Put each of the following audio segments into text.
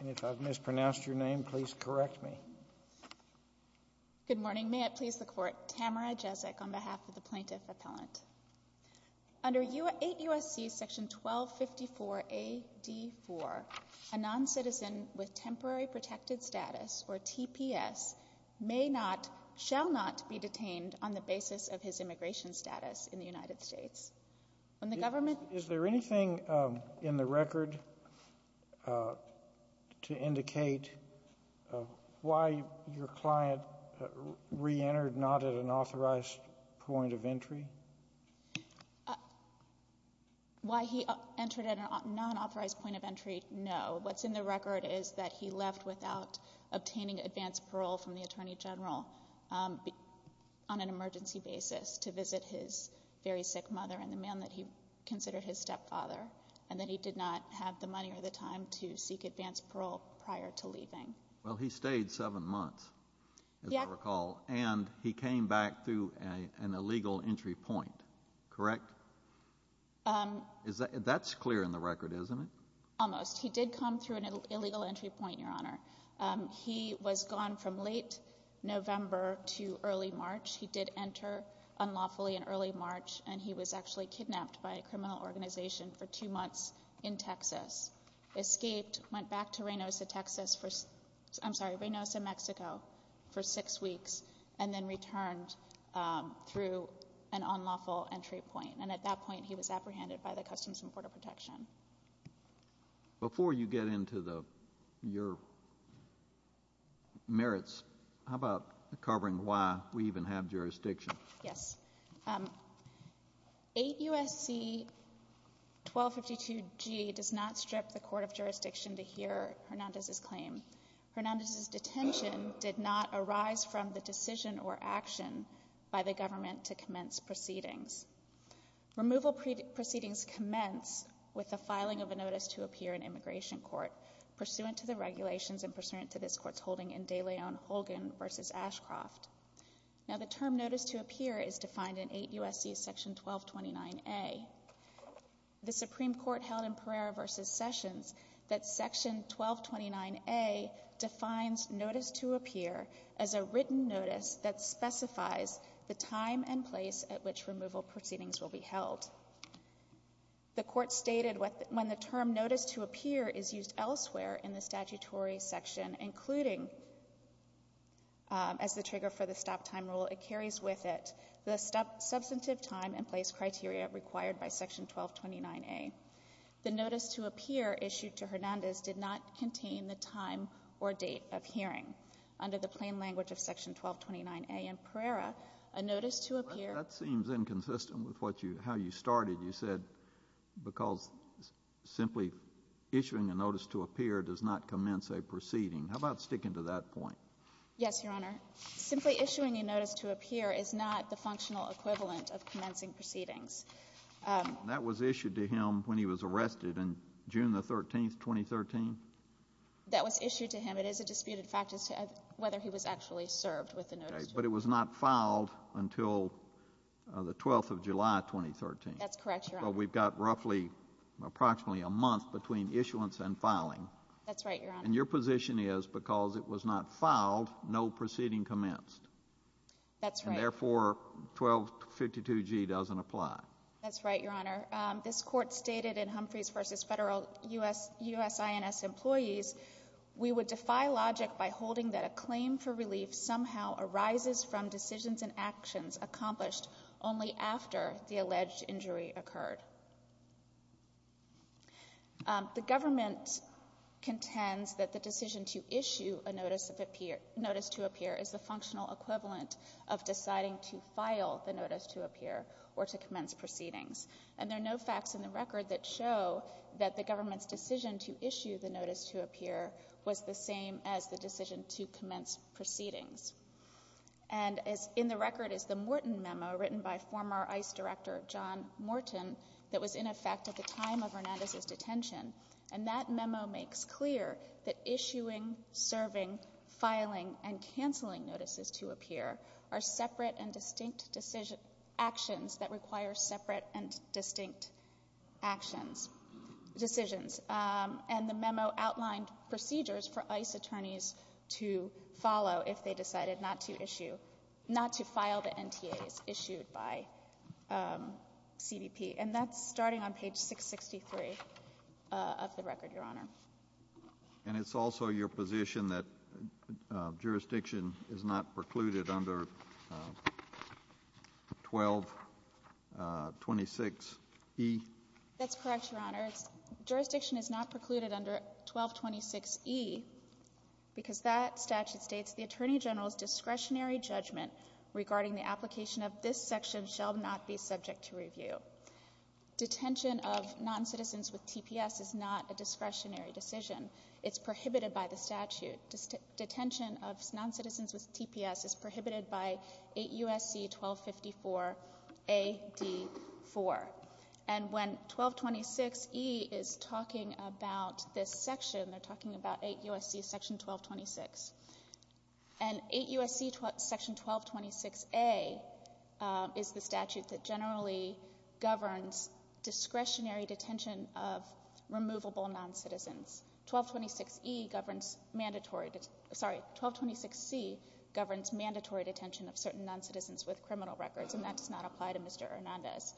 Under 8 U.S.C. § 1254 A.D. 4, a noncitizen with temporary protected status, or TPS, may not, shall not be detained on the basis of his immigration status in the United States. Is there anything in the record to indicate why your client re-entered not at an authorized point of entry? Why he entered at a non-authorized point of entry, no. What's in the record is that he left without obtaining advance parole from the Attorney General on an emergency basis to visit his very sick mother and the man that he considered his stepfather, and that he did not have the money or the time to seek advance parole prior to leaving. Well, he stayed seven months, as I recall, and he came back through an illegal entry point, correct? That's clear in the record, isn't it? Almost. He did come through an illegal entry point, Your Honor. He was gone from late November to early March. He did enter unlawfully in early March, and he was actually kidnapped by a criminal organization for two months in Texas, escaped, went back to Reynosa, Texas for — I'm sorry, Reynosa, Mexico for six weeks, and then returned through an unlawful entry point. And at that point, he was apprehended by the Customs and Border Protection. Before you get into your merits, how about covering why we even have jurisdiction? Yes. 8 U.S.C. 1252G does not strip the court of jurisdiction to hear Hernandez's claim. Hernandez's detention did not arise from the decision or action by the government to commence proceedings. Removal proceedings commence with the filing of a notice to appear in immigration court pursuant to the regulations and pursuant to this Court's holding in de Leon-Holgan v. Ashcroft. Now, the term notice to appear is defined in 8 U.S.C. section 1229A. The Supreme Court held in Pereira v. Sessions that section 1229A defines notice to appear as a written notice that specifies the time and place at which removal proceedings will be held. The Court stated when the term notice to appear is used elsewhere in the statutory section, including as the trigger for the stop-time rule, it carries with it the substantive time and place criteria required by section 1229A. The notice to appear issued to Hernandez did not contain the time or date of hearing. Under the plain language of section 1229A in Pereira, a notice to appear ---- That seems inconsistent with what you ---- how you started. You said because simply issuing a notice to appear does not commence a proceeding. How about sticking to that point? Yes, Your Honor. Simply issuing a notice to appear is not the functional equivalent of commencing proceedings. That was issued to him when he was arrested in June the 13th, 2013? That was issued to him. It is a disputed fact as to whether he was actually served with the notice to appear. But it was not filed until the 12th of July, 2013. That's correct, Your Honor. So we've got roughly approximately a month between issuance and filing. That's right, Your Honor. And your position is because it was not filed, no proceeding commenced. That's right. And therefore, 1252G doesn't apply. That's right, Your Honor. This Court stated in Humphreys v. Federal U.S. INS Employees, we would defy logic by holding that a claim for relief somehow arises from decisions and actions accomplished only after the alleged injury occurred. The government contends that the decision to issue a notice to appear is the functional equivalent of deciding to file the notice to appear or to commence proceedings. And there are no facts in the record that show that the government's decision to issue the notice to appear was the same as the decision to commence proceedings. And in the record is the Morton memo written by former ICE Director John Morton that was in effect at the time of Hernandez's detention. And that memo makes clear that issuing, serving, filing, and canceling notices to appear are separate and distinct decisions — actions that require separate and distinct actions — decisions. And the memo outlined procedures for ICE attorneys to follow if they decided not to issue — not to file the NTAs issued by CBP. And that's starting on page 663 of the record, Your Honor. And it's also your position that jurisdiction is not precluded under 1226e? That's correct, Your Honor. Jurisdiction is not precluded under 1226e because that statute states the Attorney General's discretionary judgment regarding the application of this section shall not be subject to review. Detention of noncitizens with TPS is not a discretionary decision. It's prohibited by the statute. Detention of noncitizens with TPS is prohibited by 8 U.S.C. 1254a.d.4. And when 1226e is talking about this section, they're talking about 8 U.S.C. section 1226. And 8 U.S.C. section 1226a is the statute that generally governs discretionary detention of removable noncitizens. 1226e governs mandatory — sorry, 1226c governs mandatory detention of certain noncitizens with criminal records, and that does not apply to Mr. Hernandez.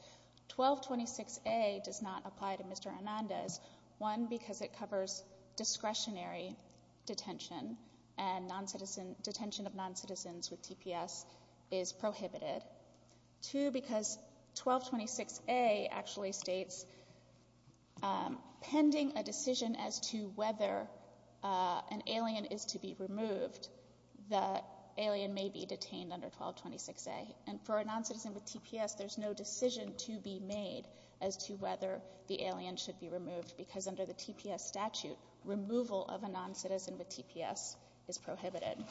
1226a does not apply to Mr. Hernandez, one, because it covers discretionary detention and noncitizen — detention of noncitizens with TPS is prohibited. Two, because 1226a actually states pending a decision as to whether an alien is to be removed, the alien may be detained under 1226a. And for a noncitizen with TPS, there's no decision to be made as to whether the alien should be removed, because under the TPS statute, removal of a noncitizen with TPS is prohibited.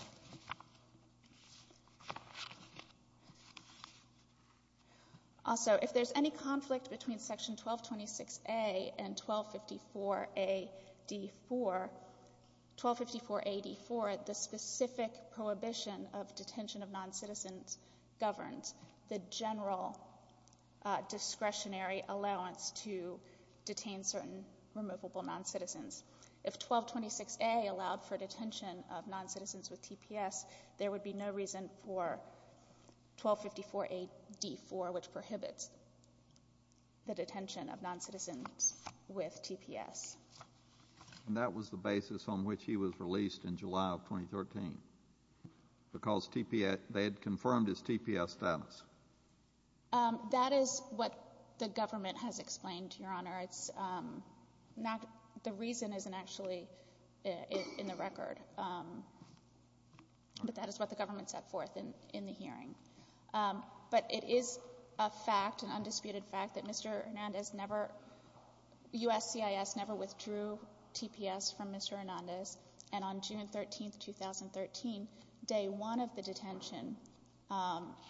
Also, if there's any conflict between section 1226a and 1254a.d.4, 1254a.d.4, the specific prohibition of detention of noncitizens governs the general discretionary allowance to detain certain removable noncitizens. If 1226a allowed for detention of noncitizens with TPS, there would be no reason for 1254a.d.4, which prohibits the detention of noncitizens with TPS. And that was the basis on which he was released in July of 2013, because TPS — they had confirmed his TPS status. That is what the government has explained, Your Honor. It's not — the reason isn't actually in the record, but that is what the government set forth in the hearing. But it is a fact, an undisputed fact, that Mr. Hernandez never — USCIS never withdrew TPS from Mr. Hernandez, and on June 13, 2013, day one of the detention,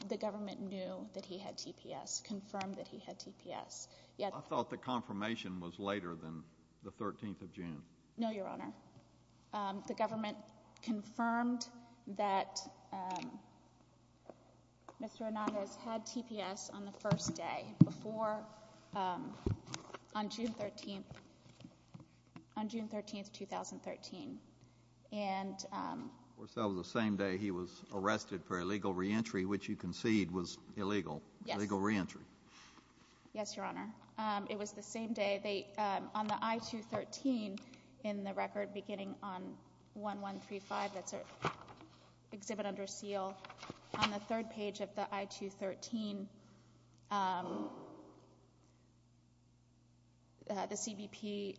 the government knew that he had TPS, confirmed that he had TPS. Yet — I thought the confirmation was later than the 13th of June. No, Your Honor. The government confirmed that Mr. Hernandez had TPS on the first day, before — on June 13 — on June 13, 2013. And — Of course, that was the same day he was arrested for illegal reentry, which you concede was illegal. Yes. Illegal reentry. Yes, Your Honor. It was the same day. They — on the I-213 in the record, beginning on 1135, that's an exhibit under seal. On the third page of the I-213, the CBP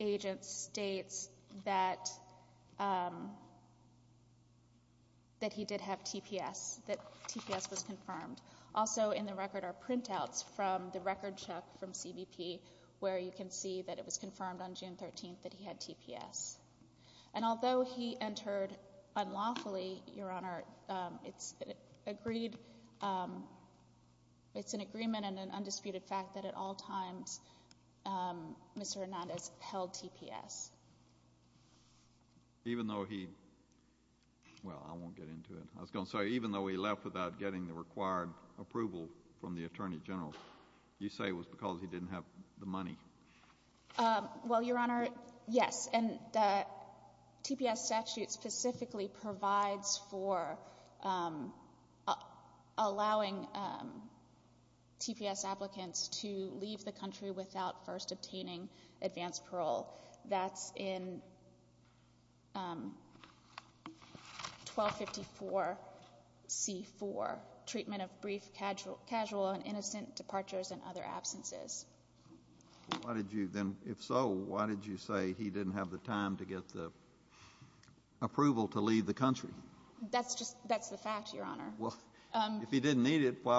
agent states that he did have TPS, that TPS was confirmed. Also in the record are printouts from the record check from CBP, where you can see that it was confirmed on June 13 that he had TPS. And although he entered unlawfully, Your Honor, it's agreed — it's an agreement and an undisputed fact that at all times Mr. Hernandez held TPS. Even though he — well, I won't get into it. I was going to say, even though he left without getting the required approval from the Attorney General, you say it was because he didn't have the money. Well, Your Honor, yes. And the TPS statute specifically provides for allowing TPS applicants to leave the country without first obtaining advance parole. That's in 1254C4, treatment of brief, casual, and innocent departures and other absences. Well, why did you — then, if so, why did you say he didn't have the time to get the approval to leave the country? That's just — that's the fact, Your Honor. Well, if he didn't need it, why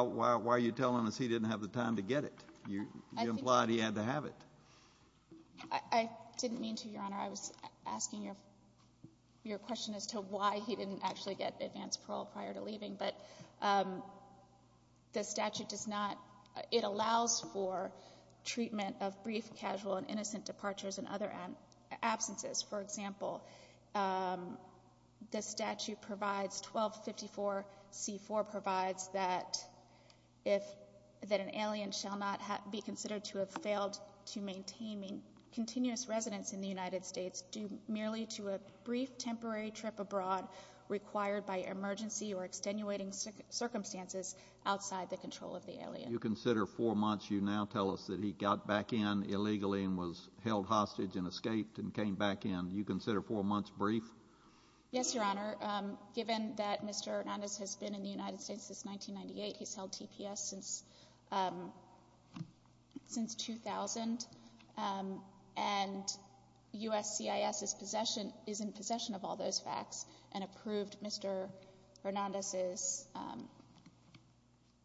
are you telling us he didn't have the time to get it? You implied he had to have it. I didn't mean to, Your Honor. I was asking your question as to why he didn't actually get advance parole prior to leaving. But the statute does not — it allows for treatment of brief, casual, and innocent departures and other absences. For example, the statute provides — 1254C4 provides that if — that an alien shall not be considered to have failed to maintain continuous residence in the United States due merely to a brief temporary trip abroad required by emergency or extenuating circumstances outside the control of the alien. You consider four months. You now tell us that he got back in illegally and was held hostage and escaped and came back in. You consider four months brief? Yes, Your Honor. Given that Mr. Hernandez has been in the United States since 1998, he's held TPS since — since 2000, and USCIS is possession — is in possession of all those facts and approved Mr. Hernandez's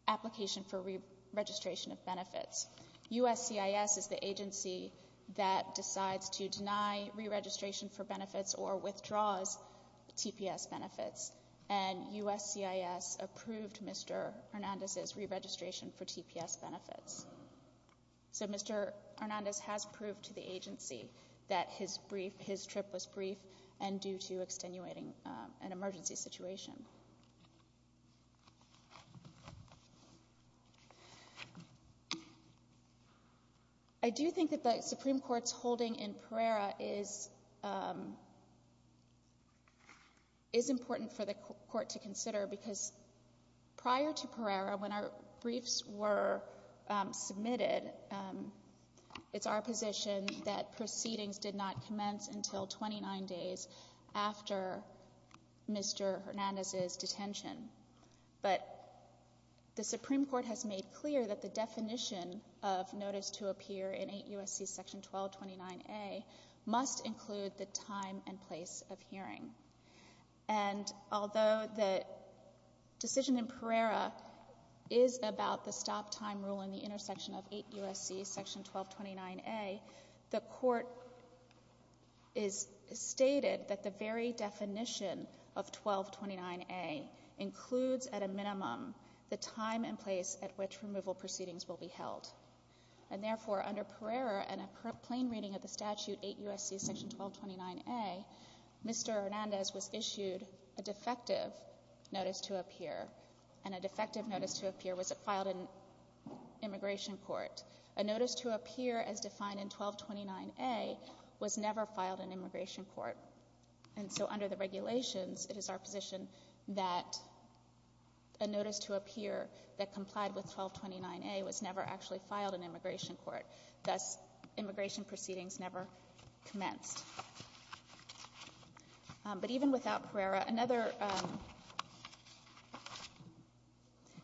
application for re-registration of benefits. USCIS is the agency that decides to deny re-registration for benefits or withdraws TPS benefits, and USCIS approved Mr. Hernandez's re-registration for TPS benefits. So Mr. Hernandez has proved to the agency that his brief — his trip was brief and due to extenuating an emergency situation. I do think that the Supreme Court's holding in Pereira is — is important for the Court to consider because prior to Pereira, when our briefs were submitted, it's our position that proceedings did not commence until 29 days after Mr. Hernandez's detention. But the Supreme Court has made clear that the definition of notice to appear in 8 U.S.C. Section 1229A must include the time and place of hearing. And although the decision in Pereira is about the stop-time rule in the intersection of 8 U.S.C. Section 1229A, the Court has stated that the very definition of 1229A includes at a minimum the time and place at which removal proceedings will be held. And therefore, under Pereira and a plain reading of the statute 8 U.S.C. Section 1229A, Mr. Hernandez was issued a defective notice to appear, and a defective notice to appear was filed in immigration court. A notice to appear as defined in 1229A was never filed in immigration court. And so under the regulations, it is our position that a notice to appear that complied with was never filed in immigration court. Thus, immigration proceedings never commenced. But even without Pereira, another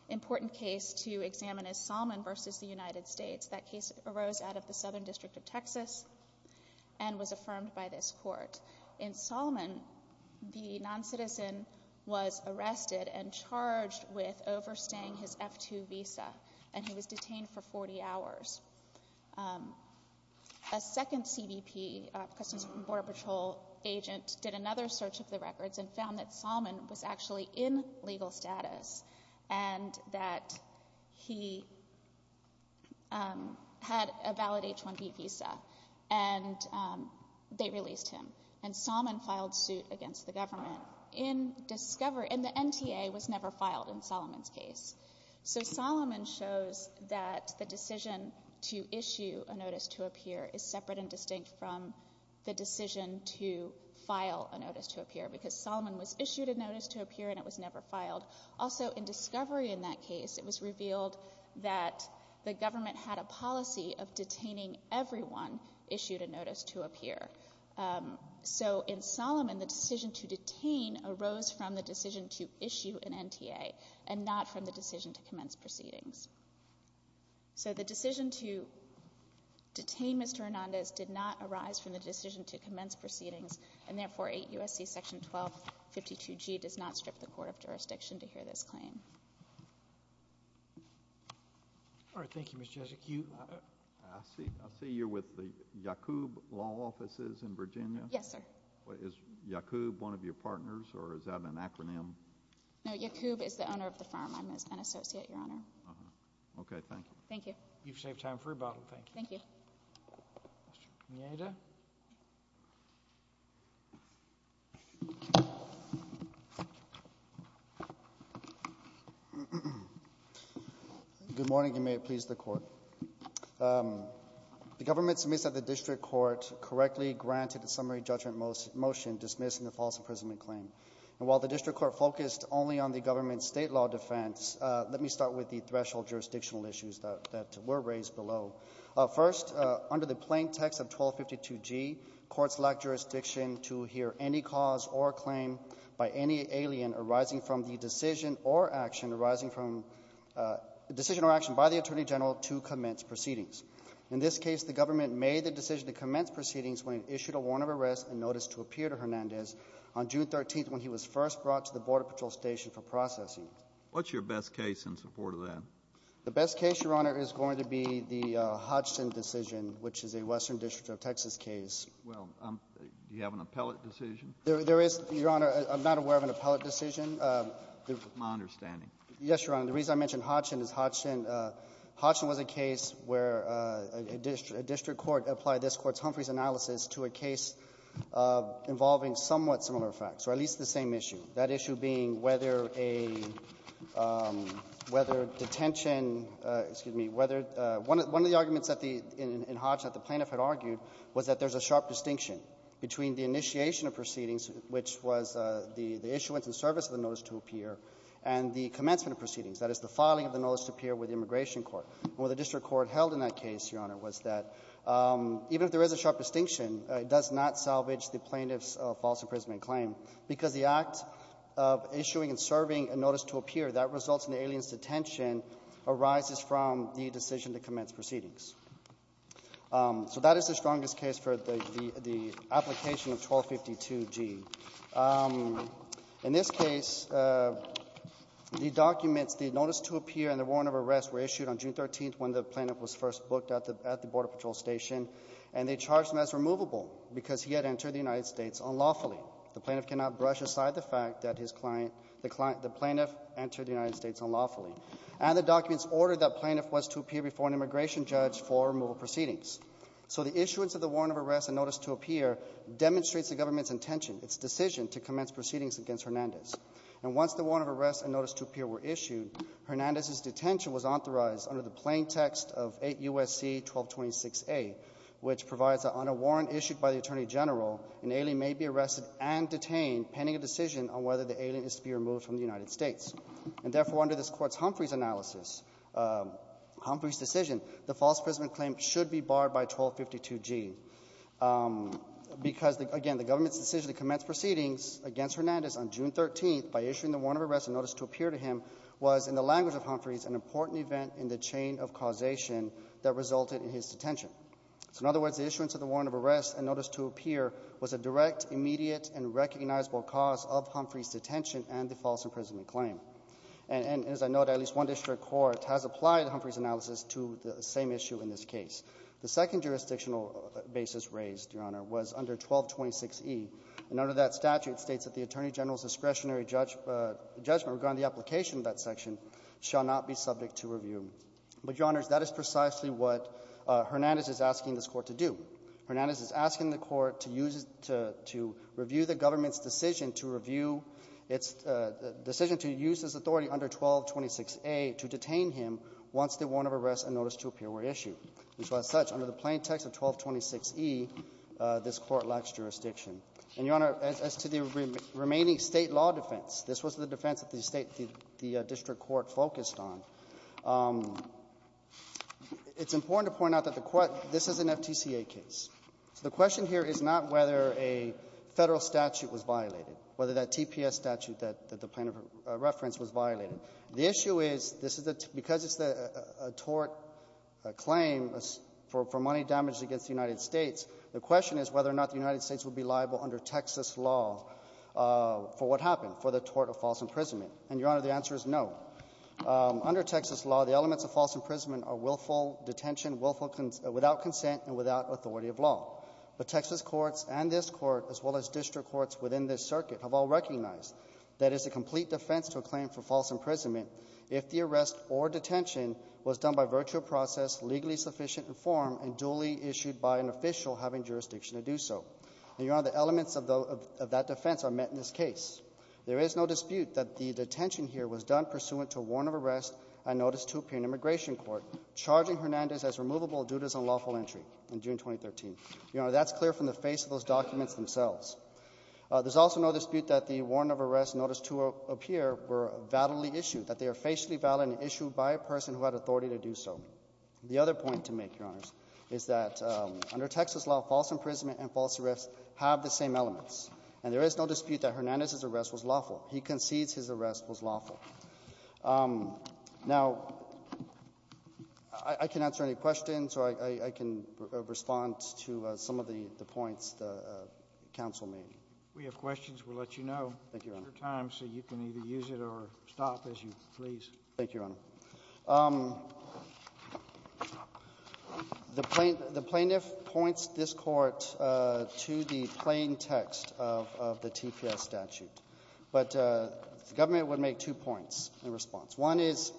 important case to examine is Salmon v. the United States. That case arose out of the Southern District of Texas and was affirmed by this Court. In Salmon, the noncitizen was arrested and charged with overstaying his F-2 visa, and he was detained for 40 hours. A second CBP, Customs and Border Patrol agent, did another search of the records and found that Salmon was actually in legal status and that he had a valid H-1B visa, and they released him. And Salmon filed suit against the government in discovery. And the NTA was never filed in Salmon's case. So Salmon shows that the decision to issue a notice to appear is separate and distinct from the decision to file a notice to appear, because Salmon was issued a notice to appear and it was never filed. Also, in discovery in that case, it was revealed that the government had a policy of detaining everyone issued a notice to appear. So in Salmon, the decision to detain arose from the decision to issue an NTA and not from the decision to commence proceedings. So the decision to detain Mr. Hernandez did not arise from the decision to commence proceedings, and therefore 8 U.S.C. section 1252G does not strip the court of jurisdiction to hear this claim. All right. Thank you, Ms. Jesik. I see you're with the YACUB law offices in Virginia. Yes, sir. Is YACUB one of your partners, or is that an acronym? No. YACUB is the owner of the firm. I'm an associate, Your Honor. Okay. Thank you. Thank you. You've saved time for rebuttal. Thank you. Thank you. Mr. Pineda. Good morning, and may it please the Court. The government submits that the district court correctly granted a summary judgment motion dismissing the false imprisonment claim. And while the district court focused only on the government's state law defense, let me start with the threshold jurisdictional issues that were raised below. First, under the plain text of 1252G, courts lack jurisdiction to hear any cause or claim by any alien arising from the decision or action arising from the decision or action by the Attorney General to commence proceedings. In this case, the government made the decision to commence proceedings when it issued a warrant of arrest and notice to appear to Hernandez on June 13th when he was first brought to the Border Patrol Station for processing. What's your best case in support of that? The best case, Your Honor, is going to be the Hodgson decision, which is a Western District of Texas case. Well, do you have an appellate decision? There is, Your Honor. I'm not aware of an appellate decision. That's my understanding. Yes, Your Honor. The reason I mention Hodgson is Hodgson was a case where a district court applied this Court's Humphreys analysis to a case involving somewhat similar facts, or at least the same issue, that issue being whether a — whether detention — excuse me — whether — one of the arguments in Hodgson that the plaintiff had argued was that there's a sharp distinction between the initiation of proceedings, which was the issuance and service of the notice to appear, and the commencement of proceedings, that is, the filing of the notice to appear with the Immigration Court. And what the district court held in that case, Your Honor, was that even if there is a sharp distinction, it does not salvage the plaintiff's false imprisonment claim, because the act of issuing and serving a notice to appear that results in the alien's detention arises from the decision to commence proceedings. So that is the strongest case for the application of 1252G. In this case, the documents, the notice to appear and the warrant of arrest were issued on June 13th when the plaintiff was first booked at the Border Patrol Station, and they charged him as removable because he had entered the United States unlawfully. The plaintiff cannot brush aside the fact that his client — the plaintiff entered the United States unlawfully. And the documents ordered that the plaintiff was to appear before an immigration judge for removal proceedings. So the issuance of the plaintiff's decision to commence proceedings against Hernandez. And once the warrant of arrest and notice to appear were issued, Hernandez's detention was authorized under the plain text of 8 U.S.C. 1226A, which provides that on a warrant issued by the Attorney General, an alien may be arrested and detained pending a decision on whether the alien is to be removed from the United States. And therefore, under this Court's Humphreys analysis, Humphreys' decision, the false imprisonment claim should be barred by 1252G because, again, the government's decision to commence proceedings against Hernandez on June 13th by issuing the warrant of arrest and notice to appear to him was, in the language of Humphreys, an important event in the chain of causation that resulted in his detention. So in other words, the issuance of the warrant of arrest and notice to appear was a direct, immediate, and recognizable cause of Humphreys' detention and the false imprisonment claim. And as I note, at least one district court has applied Humphreys' analysis to the same issue in this case. The second jurisdictional basis raised, Your Honor, was under 1226E. And under that statute, it states that the Attorney General's discretionary judgment regarding the application of that section shall not be subject to review. But, Your Honors, that is precisely what Hernandez is asking this Court to do. Hernandez is asking the Court to use it to review the government's decision to review its decision to use his authority under 1226A to detain him once the warrant of arrest and notice to appear were issued. And so as such, under the plain text of 1226E, this Court lacks jurisdiction. And, Your Honor, as to the remaining State law defense, this was the defense that the State — the district court focused on. It's important to point out that the — this is an FTCA case. So the question here is not whether a Federal statute was violated, whether that TPS statute that the plaintiff referenced was violated. The issue is, this is a — because it's a tort claim for — for money damaged against the United States, the question is whether or not the United States would be liable under Texas law for what happened, for the tort of false imprisonment. And, Your Honor, the answer is no. Under Texas law, the elements of false imprisonment are willful detention, willful — without consent and without authority of law. But Texas courts and this Court, as well as district courts within this circuit, have all recognized that it's a complete defense to a claim for false imprisonment if the arrest or detention was done by virtue of process legally sufficient in form and duly issued by an official having jurisdiction to do so. And, Your Honor, the elements of the — of that defense are met in this case. There is no dispute that the detention here was done pursuant to a warrant of arrest and notice to appear in immigration court charging Hernandez as removable due to his unlawful entry in June 2013. Your Honor, that's clear from the face of those documents themselves. There's also no dispute that the warrant of arrest and notice to appear were validly issued, that they are facially valid and issued by a person who had authority to do so. The other point to make, Your Honors, is that under Texas law, false imprisonment and false arrest have the same elements. And there is no dispute that Hernandez's arrest was lawful. He concedes his arrest was lawful. Now, I can answer any questions, or I can respond to some of the points the counsel made. We have questions. We'll let you know. Thank you, Your Honor. Your time, so you can either use it or stop as you please. Thank you, Your Honor. The plaintiff points this Court to the plain text of the TPS statute. But the government would make two points in response. One is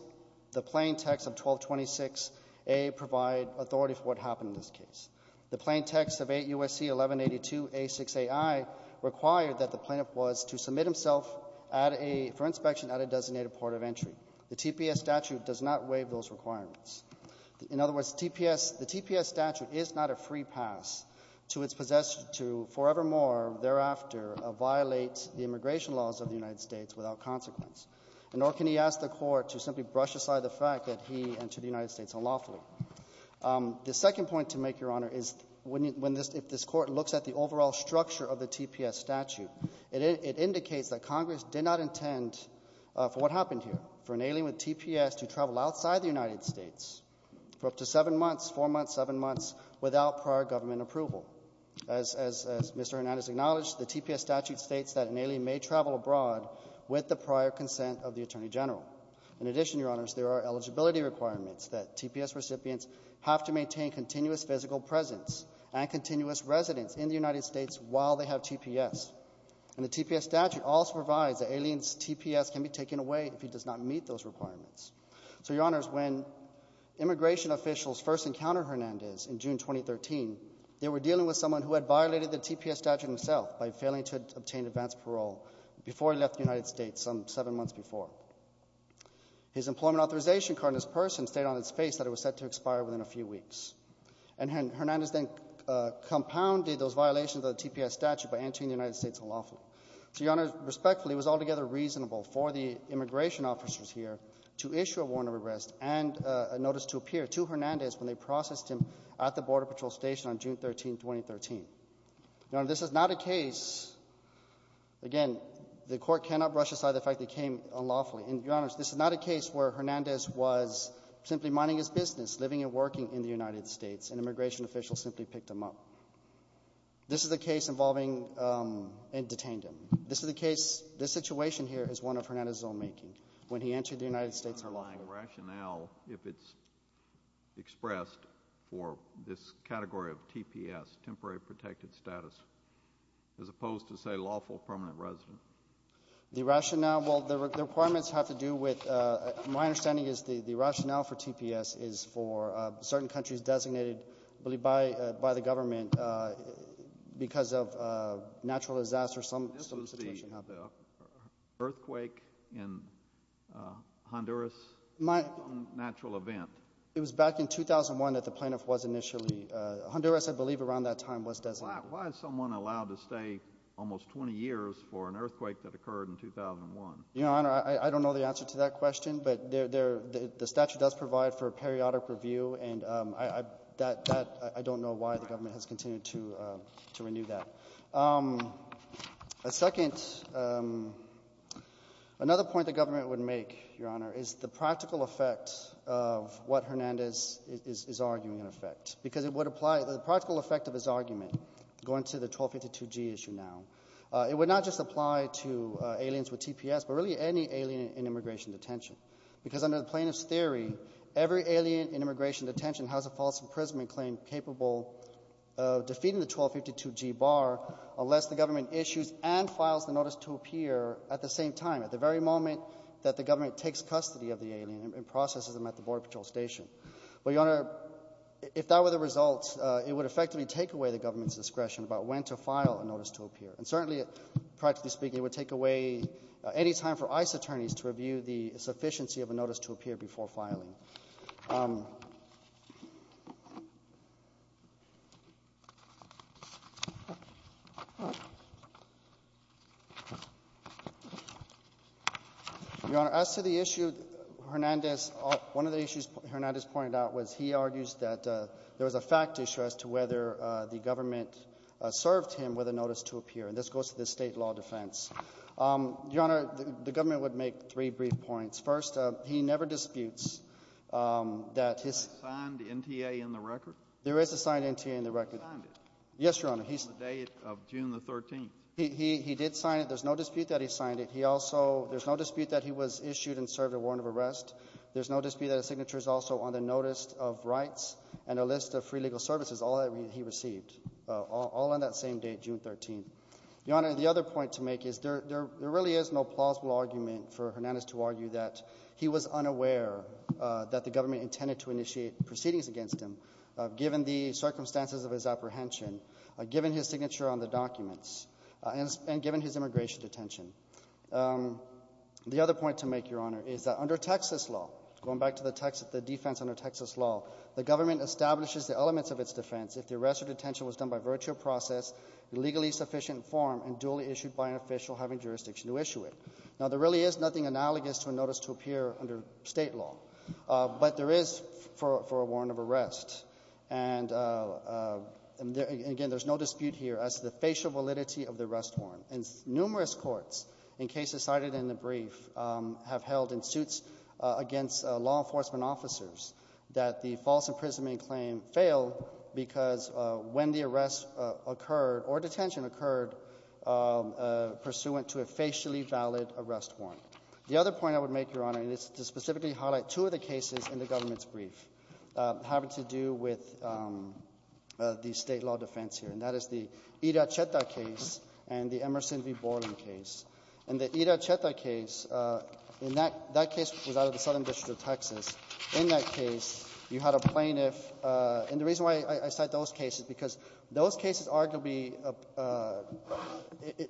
the plain text of 1226a provide authority for what happened in this case. The plain text of 8 U.S.C. 1182a6aI required that the plaintiff was to submit himself for inspection at a designated port of entry. The TPS statute does not waive those requirements. In other words, the TPS statute is not a free pass to its possessor to forevermore thereafter violate the immigration laws of the United States without consequence. Nor can he ask the Court to simply brush aside the fact that he entered the United States unlawfully. The second point to make, Your Honor, is if this Court looks at the overall structure of the TPS statute, it indicates that Congress did not intend for what happened here, for an alien with TPS to travel outside the United States for up to seven months, four months, seven months, without prior government approval. As Mr. Hernandez acknowledged, the TPS statute states that an alien may travel abroad with the prior consent of the Attorney General. In addition, Your Honors, there are eligibility requirements that TPS recipients have to maintain continuous physical presence and continuous residence in the United States while they have TPS. And the TPS statute also provides that an alien's TPS can be taken away if he does not meet those requirements. So, Your Honors, when immigration officials first encountered Hernandez in June 2013, they were dealing with someone who had violated the TPS statute himself by failing to obtain advance parole before he left the United States some seven months before. His employment authorization card in this person stated on a few weeks. And Hernandez then compounded those violations of the TPS statute by entering the United States unlawfully. So, Your Honors, respectfully, it was altogether reasonable for the immigration officers here to issue a warrant of arrest and a notice to appear to Hernandez when they processed him at the Border Patrol Station on June 13, 2013. Your Honors, this is not a case, again, the Court cannot brush aside the fact that it came unlawfully. And, Your Honors, this is not a case where Hernandez was simply minding his business, living and working in the United States, and immigration officials simply picked him up. This is a case involving and detained him. This is a case, this situation here is one of Hernandez' own making. When he entered the United States unlawfully. Unlawful rationale if it's expressed for this category of TPS, temporary protected status, as opposed to, say, lawful permanent resident. The rationale, well, the requirements have to do with, my understanding is the rationale for TPS is for certain countries designated by the government because of natural disaster or some situation happened. This was the earthquake in Honduras, natural event. It was back in 2001 that the plaintiff was initially, Honduras, I believe, around that time was designated. Well, why is someone allowed to stay almost 20 years for an earthquake that occurred in 2001? Your Honor, I don't know the answer to that question, but the statute does provide for a periodic review, and I don't know why the government has continued to renew that. A second, another point the government would make, Your Honor, is the practical effect of what Hernandez is arguing in effect. Because it would apply, the practical effect of his argument, going to the 1252G issue now, it would not just apply to aliens with TPS, but really any alien in immigration detention. Because under the plaintiff's theory, every alien in immigration detention has a false imprisonment claim capable of defeating the 1252G bar unless the government issues and files the notice to appear at the same time, at the very moment that the government takes custody of the alien and processes them at the Border Patrol Station. Well, Your Honor, if that were the result, it would effectively take away the government's discretion about when to file a notice to appear. And certainly, practically speaking, it would take away any time for ICE attorneys to review the sufficiency of a notice to appear before filing. Your Honor, as to the issue Hernandez — one of the issues Hernandez pointed out was he argues that there was a fact issue as to whether the government served him with a notice to appear. And this goes to the state law defense. Your Honor, the government would make three brief points. First, he never disputes that his — Was there a signed NTA in the record? There is a signed NTA in the record. He signed it. Yes, Your Honor. On the day of June the 13th. He did sign it. There's no dispute that he signed it. He also — there's no dispute that he was issued and served a warrant of arrest. There's no dispute that his signature is also on the notice of rights and a list of free legal services, all that he received, all on that same day, June 13th. Your Honor, the other point to make is there really is no plausible argument for Hernandez to argue that he was unaware that the government intended to initiate proceedings against him, given the circumstances of his apprehension, given his signature on the documents, and given his immigration detention. The other point to make, Your Honor, is that under Texas law, going back to the defense under Texas law, the government establishes the elements of its defense if the arrest or detention was done by virtue of process, legally sufficient form, and duly issued by an official having jurisdiction to issue it. Now, there really is nothing analogous to a notice to appear under State law. But there is for a warrant of arrest. And, again, there's no dispute here as to the facial validity of the arrest warrant. And numerous courts, in cases cited in the brief, have held in suits against law enforcement officers that the false imprisonment claim failed because when the arrest occurred or detention occurred pursuant to a facially valid arrest warrant. The other point I would make, Your Honor, and it's to specifically highlight two of the cases in the government's brief having to do with the State law defense here, and that is the Ita-Cheta case and the Emerson v. Borland case. In the Ita-Cheta case, in that case was out of the Southern District of Texas. In that case, you had a plaintiff. And the reason why I cite those cases is because those cases arguably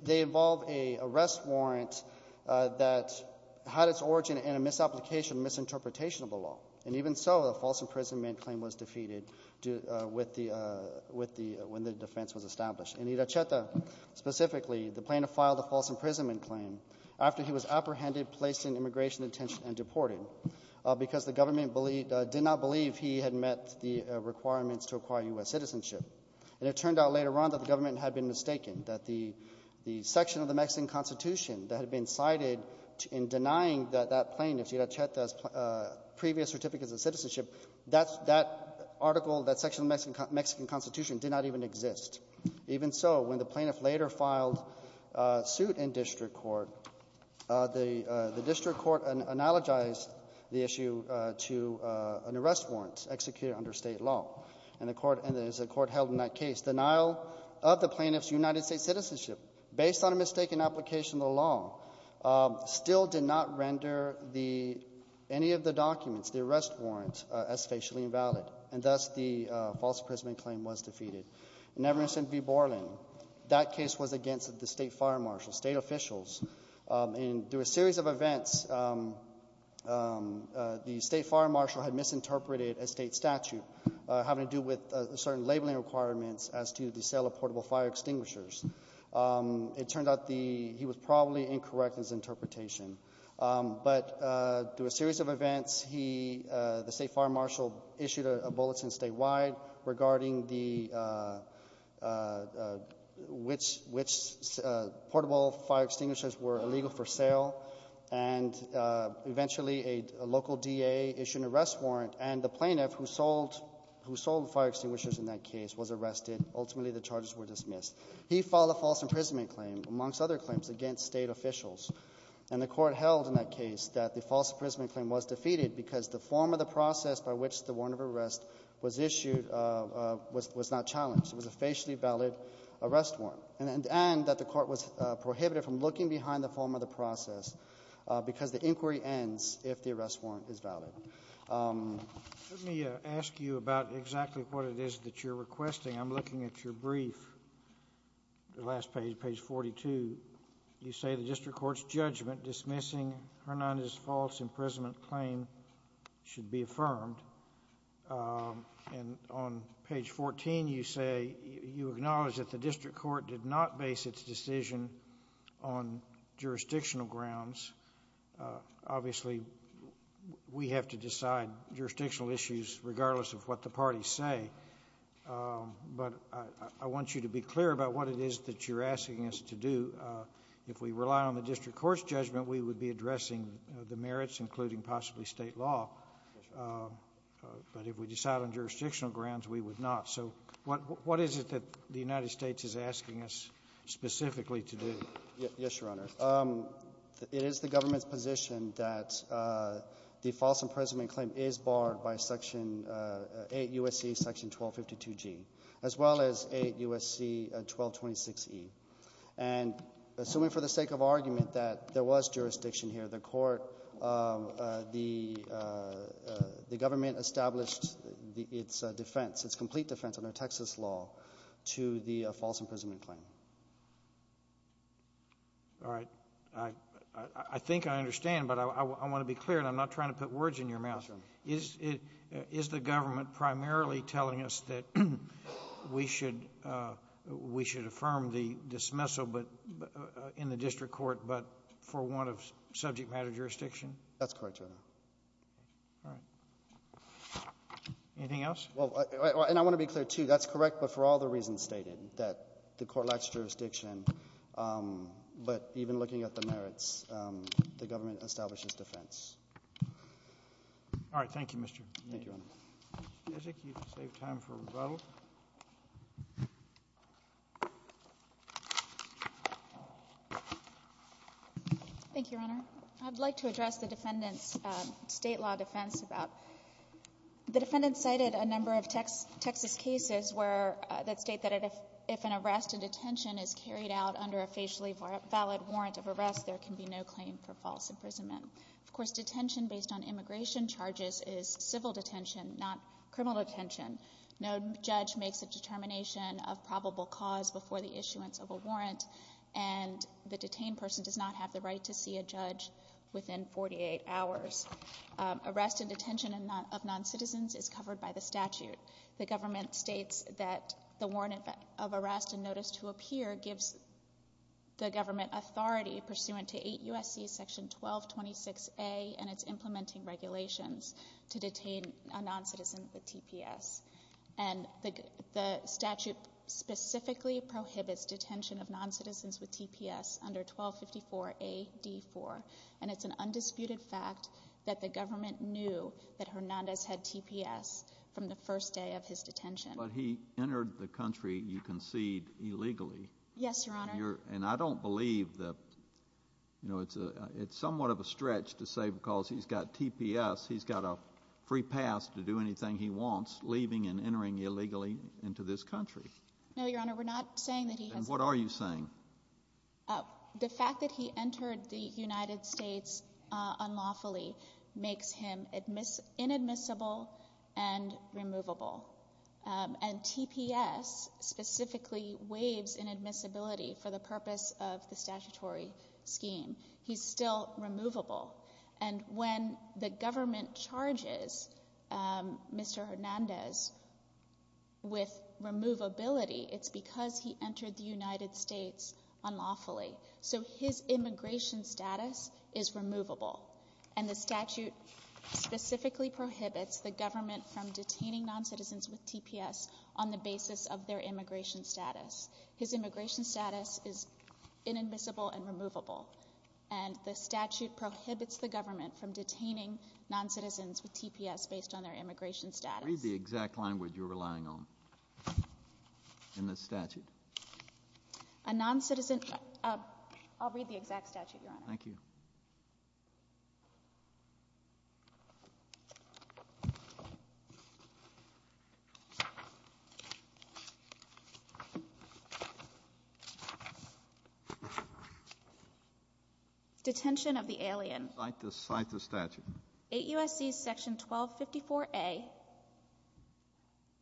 they involve an arrest warrant that had its origin in a misapplication, misinterpretation of the law. And even so, a false imprisonment claim was defeated when the defense was established. In Ita-Cheta, specifically, the plaintiff filed a false imprisonment claim after he was apprehended, placed in immigration detention, and deported because the requirements to acquire U.S. citizenship. And it turned out later on that the government had been mistaken, that the section of the Mexican Constitution that had been cited in denying that that plaintiff's previous certificates of citizenship, that article, that section of the Mexican Constitution did not even exist. Even so, when the plaintiff later filed suit in district court, the district court analogized the issue to an arrest warrant executed under State law. And the court held in that case denial of the plaintiff's United States citizenship based on a mistaken application of the law still did not render any of the documents, the arrest warrant, as facially invalid. And thus, the false imprisonment claim was defeated. In Everson v. Borland, that case was against the State fire marshal, State officials. And through a series of events, the State fire marshal had misinterpreted a State statute having to do with certain labeling requirements as to the sale of portable fire extinguishers. It turned out he was probably incorrect in his interpretation. But through a series of events, the State fire marshal issued a bulletin statewide regarding which portable fire extinguishers were illegal for sale. And eventually, a local DA issued an arrest warrant. And the plaintiff who sold fire extinguishers in that case was arrested. Ultimately, the charges were dismissed. He filed a false imprisonment claim, amongst other claims, against State officials. And the court held in that case that the false imprisonment claim was defeated because the form of the process by which the warrant of arrest was issued was not challenged. It was a facially valid arrest warrant. And that the court was prohibited from looking behind the form of the process because the inquiry ends if the arrest warrant is valid. Let me ask you about exactly what it is that you're requesting. I'm looking at your brief, the last page, page 42. You say the district court's judgment dismissing Hernandez's false imprisonment claim should be affirmed. And on page 14, you say you acknowledge that the district court did not base its decision on jurisdictional grounds. Obviously, we have to decide jurisdictional issues regardless of what the parties say. But I want you to be clear about what it is that you're asking us to do. If we rely on the district court's judgment, we would be addressing the merits, including possibly State law. But if we decide on jurisdictional grounds, we would not. So what is it that the United States is asking us specifically to do? Yes, Your Honor. It is the government's position that the false imprisonment claim is barred by Section 8 U.S.C. Section 1252G, as well as 8 U.S.C. 1226E. And assuming for the sake of argument that there was jurisdiction here, the court the government established its defense, its complete defense under Texas law to the false imprisonment claim. All right. I think I understand, but I want to be clear, and I'm not trying to put words in your mouth. Yes, Your Honor. Is the government primarily telling us that we should affirm the dismissal in the district court, but for want of subject matter jurisdiction? That's correct, Your Honor. All right. Anything else? And I want to be clear, too. That's correct, but for all the reasons stated, that the court lacks jurisdiction, but even looking at the merits, the government establishes defense. All right. Thank you, Mr. Kneedl. Thank you, Your Honor. Ms. Jessik, you've saved time for rebuttal. Thank you, Your Honor. I'd like to address the defendant's State law defense about the defendant cited a where that state that if an arrest and detention is carried out under a facially valid warrant of arrest, there can be no claim for false imprisonment. Of course, detention based on immigration charges is civil detention, not criminal detention. No judge makes a determination of probable cause before the issuance of a warrant, and the detained person does not have the right to see a judge within 48 hours. Arrest and detention of noncitizens is covered by the statute. The government states that the warrant of arrest and notice to appear gives the government authority pursuant to 8 U.S.C. section 1226A and its implementing regulations to detain a noncitizen with TPS. And the statute specifically prohibits detention of noncitizens with TPS under 1254A.D.4, and it's an undisputed fact that the government knew that Hernandez had TPS from the first day of his detention. But he entered the country, you concede, illegally. Yes, Your Honor. And I don't believe that, you know, it's somewhat of a stretch to say because he's got TPS, he's got a free pass to do anything he wants, leaving and entering illegally into this country. No, Your Honor, we're not saying that he has. And what are you saying? The fact that he entered the United States unlawfully makes him inadmissible and removable. And TPS specifically waives inadmissibility for the purpose of the statutory scheme. He's still removable. And when the government charges Mr. Hernandez with removability, it's because he entered the United States unlawfully. So his immigration status is removable. And the statute specifically prohibits the government from detaining noncitizens with TPS on the basis of their immigration status. His immigration status is inadmissible and removable. And the statute prohibits the government from detaining noncitizens with TPS based on their immigration status. Read the exact language you're relying on in the statute. A noncitizen—I'll read the exact statute, Your Honor. Thank you. Detention of the alien. Cite the statute. AUSC section 1254A,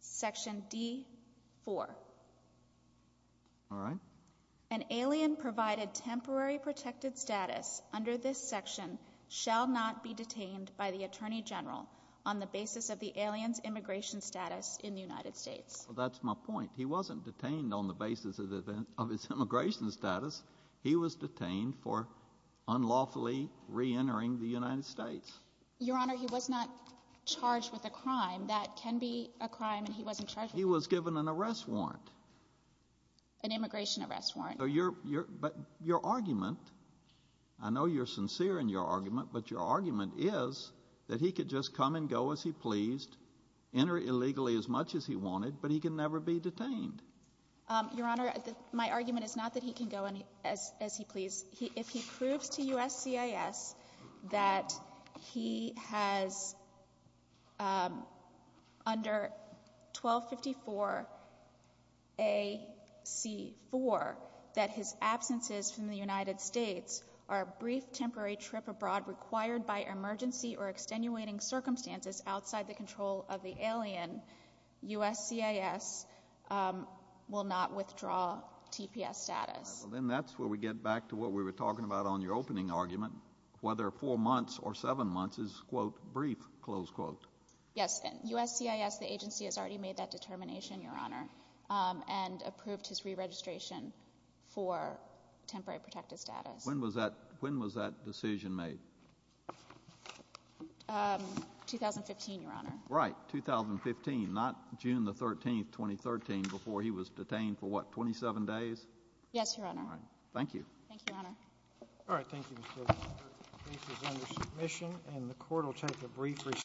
section D4. All right. An alien provided temporary protected status under this section shall not be detained by the Attorney General on the basis of the alien's immigration status in the United States. That's my point. He wasn't detained on the basis of his immigration status. He was detained for unlawfully reentering the United States. Your Honor, he was not charged with a crime. That can be a crime and he wasn't charged with it. He was given an arrest warrant. An immigration arrest warrant. But your argument, I know you're sincere in your argument, but your argument is that he could just come and go as he pleased, enter illegally as much as he wanted, but he can never be detained. Your Honor, my argument is not that he can go as he please. If he proves to USCIS that he has under 1254A, C4, that his absences from the United States are a brief temporary trip abroad required by emergency or extenuating circumstances outside the control of the alien, USCIS will not withdraw TPS status. Then that's where we get back to what we were talking about on your opening argument, whether four months or seven months is, quote, brief, close quote. Yes, USCIS, the agency, has already made that determination, Your Honor, and approved his re-registration for temporary protected status. When was that decision made? 2015, Your Honor. Right, 2015, not June 13, 2013, before he was detained for, what, 27 days? Yes, Your Honor. All right. Thank you. Thank you, Your Honor. All right. Thank you, Mr. O'Connor. The brief is under submission, and the Court will take a brief recess.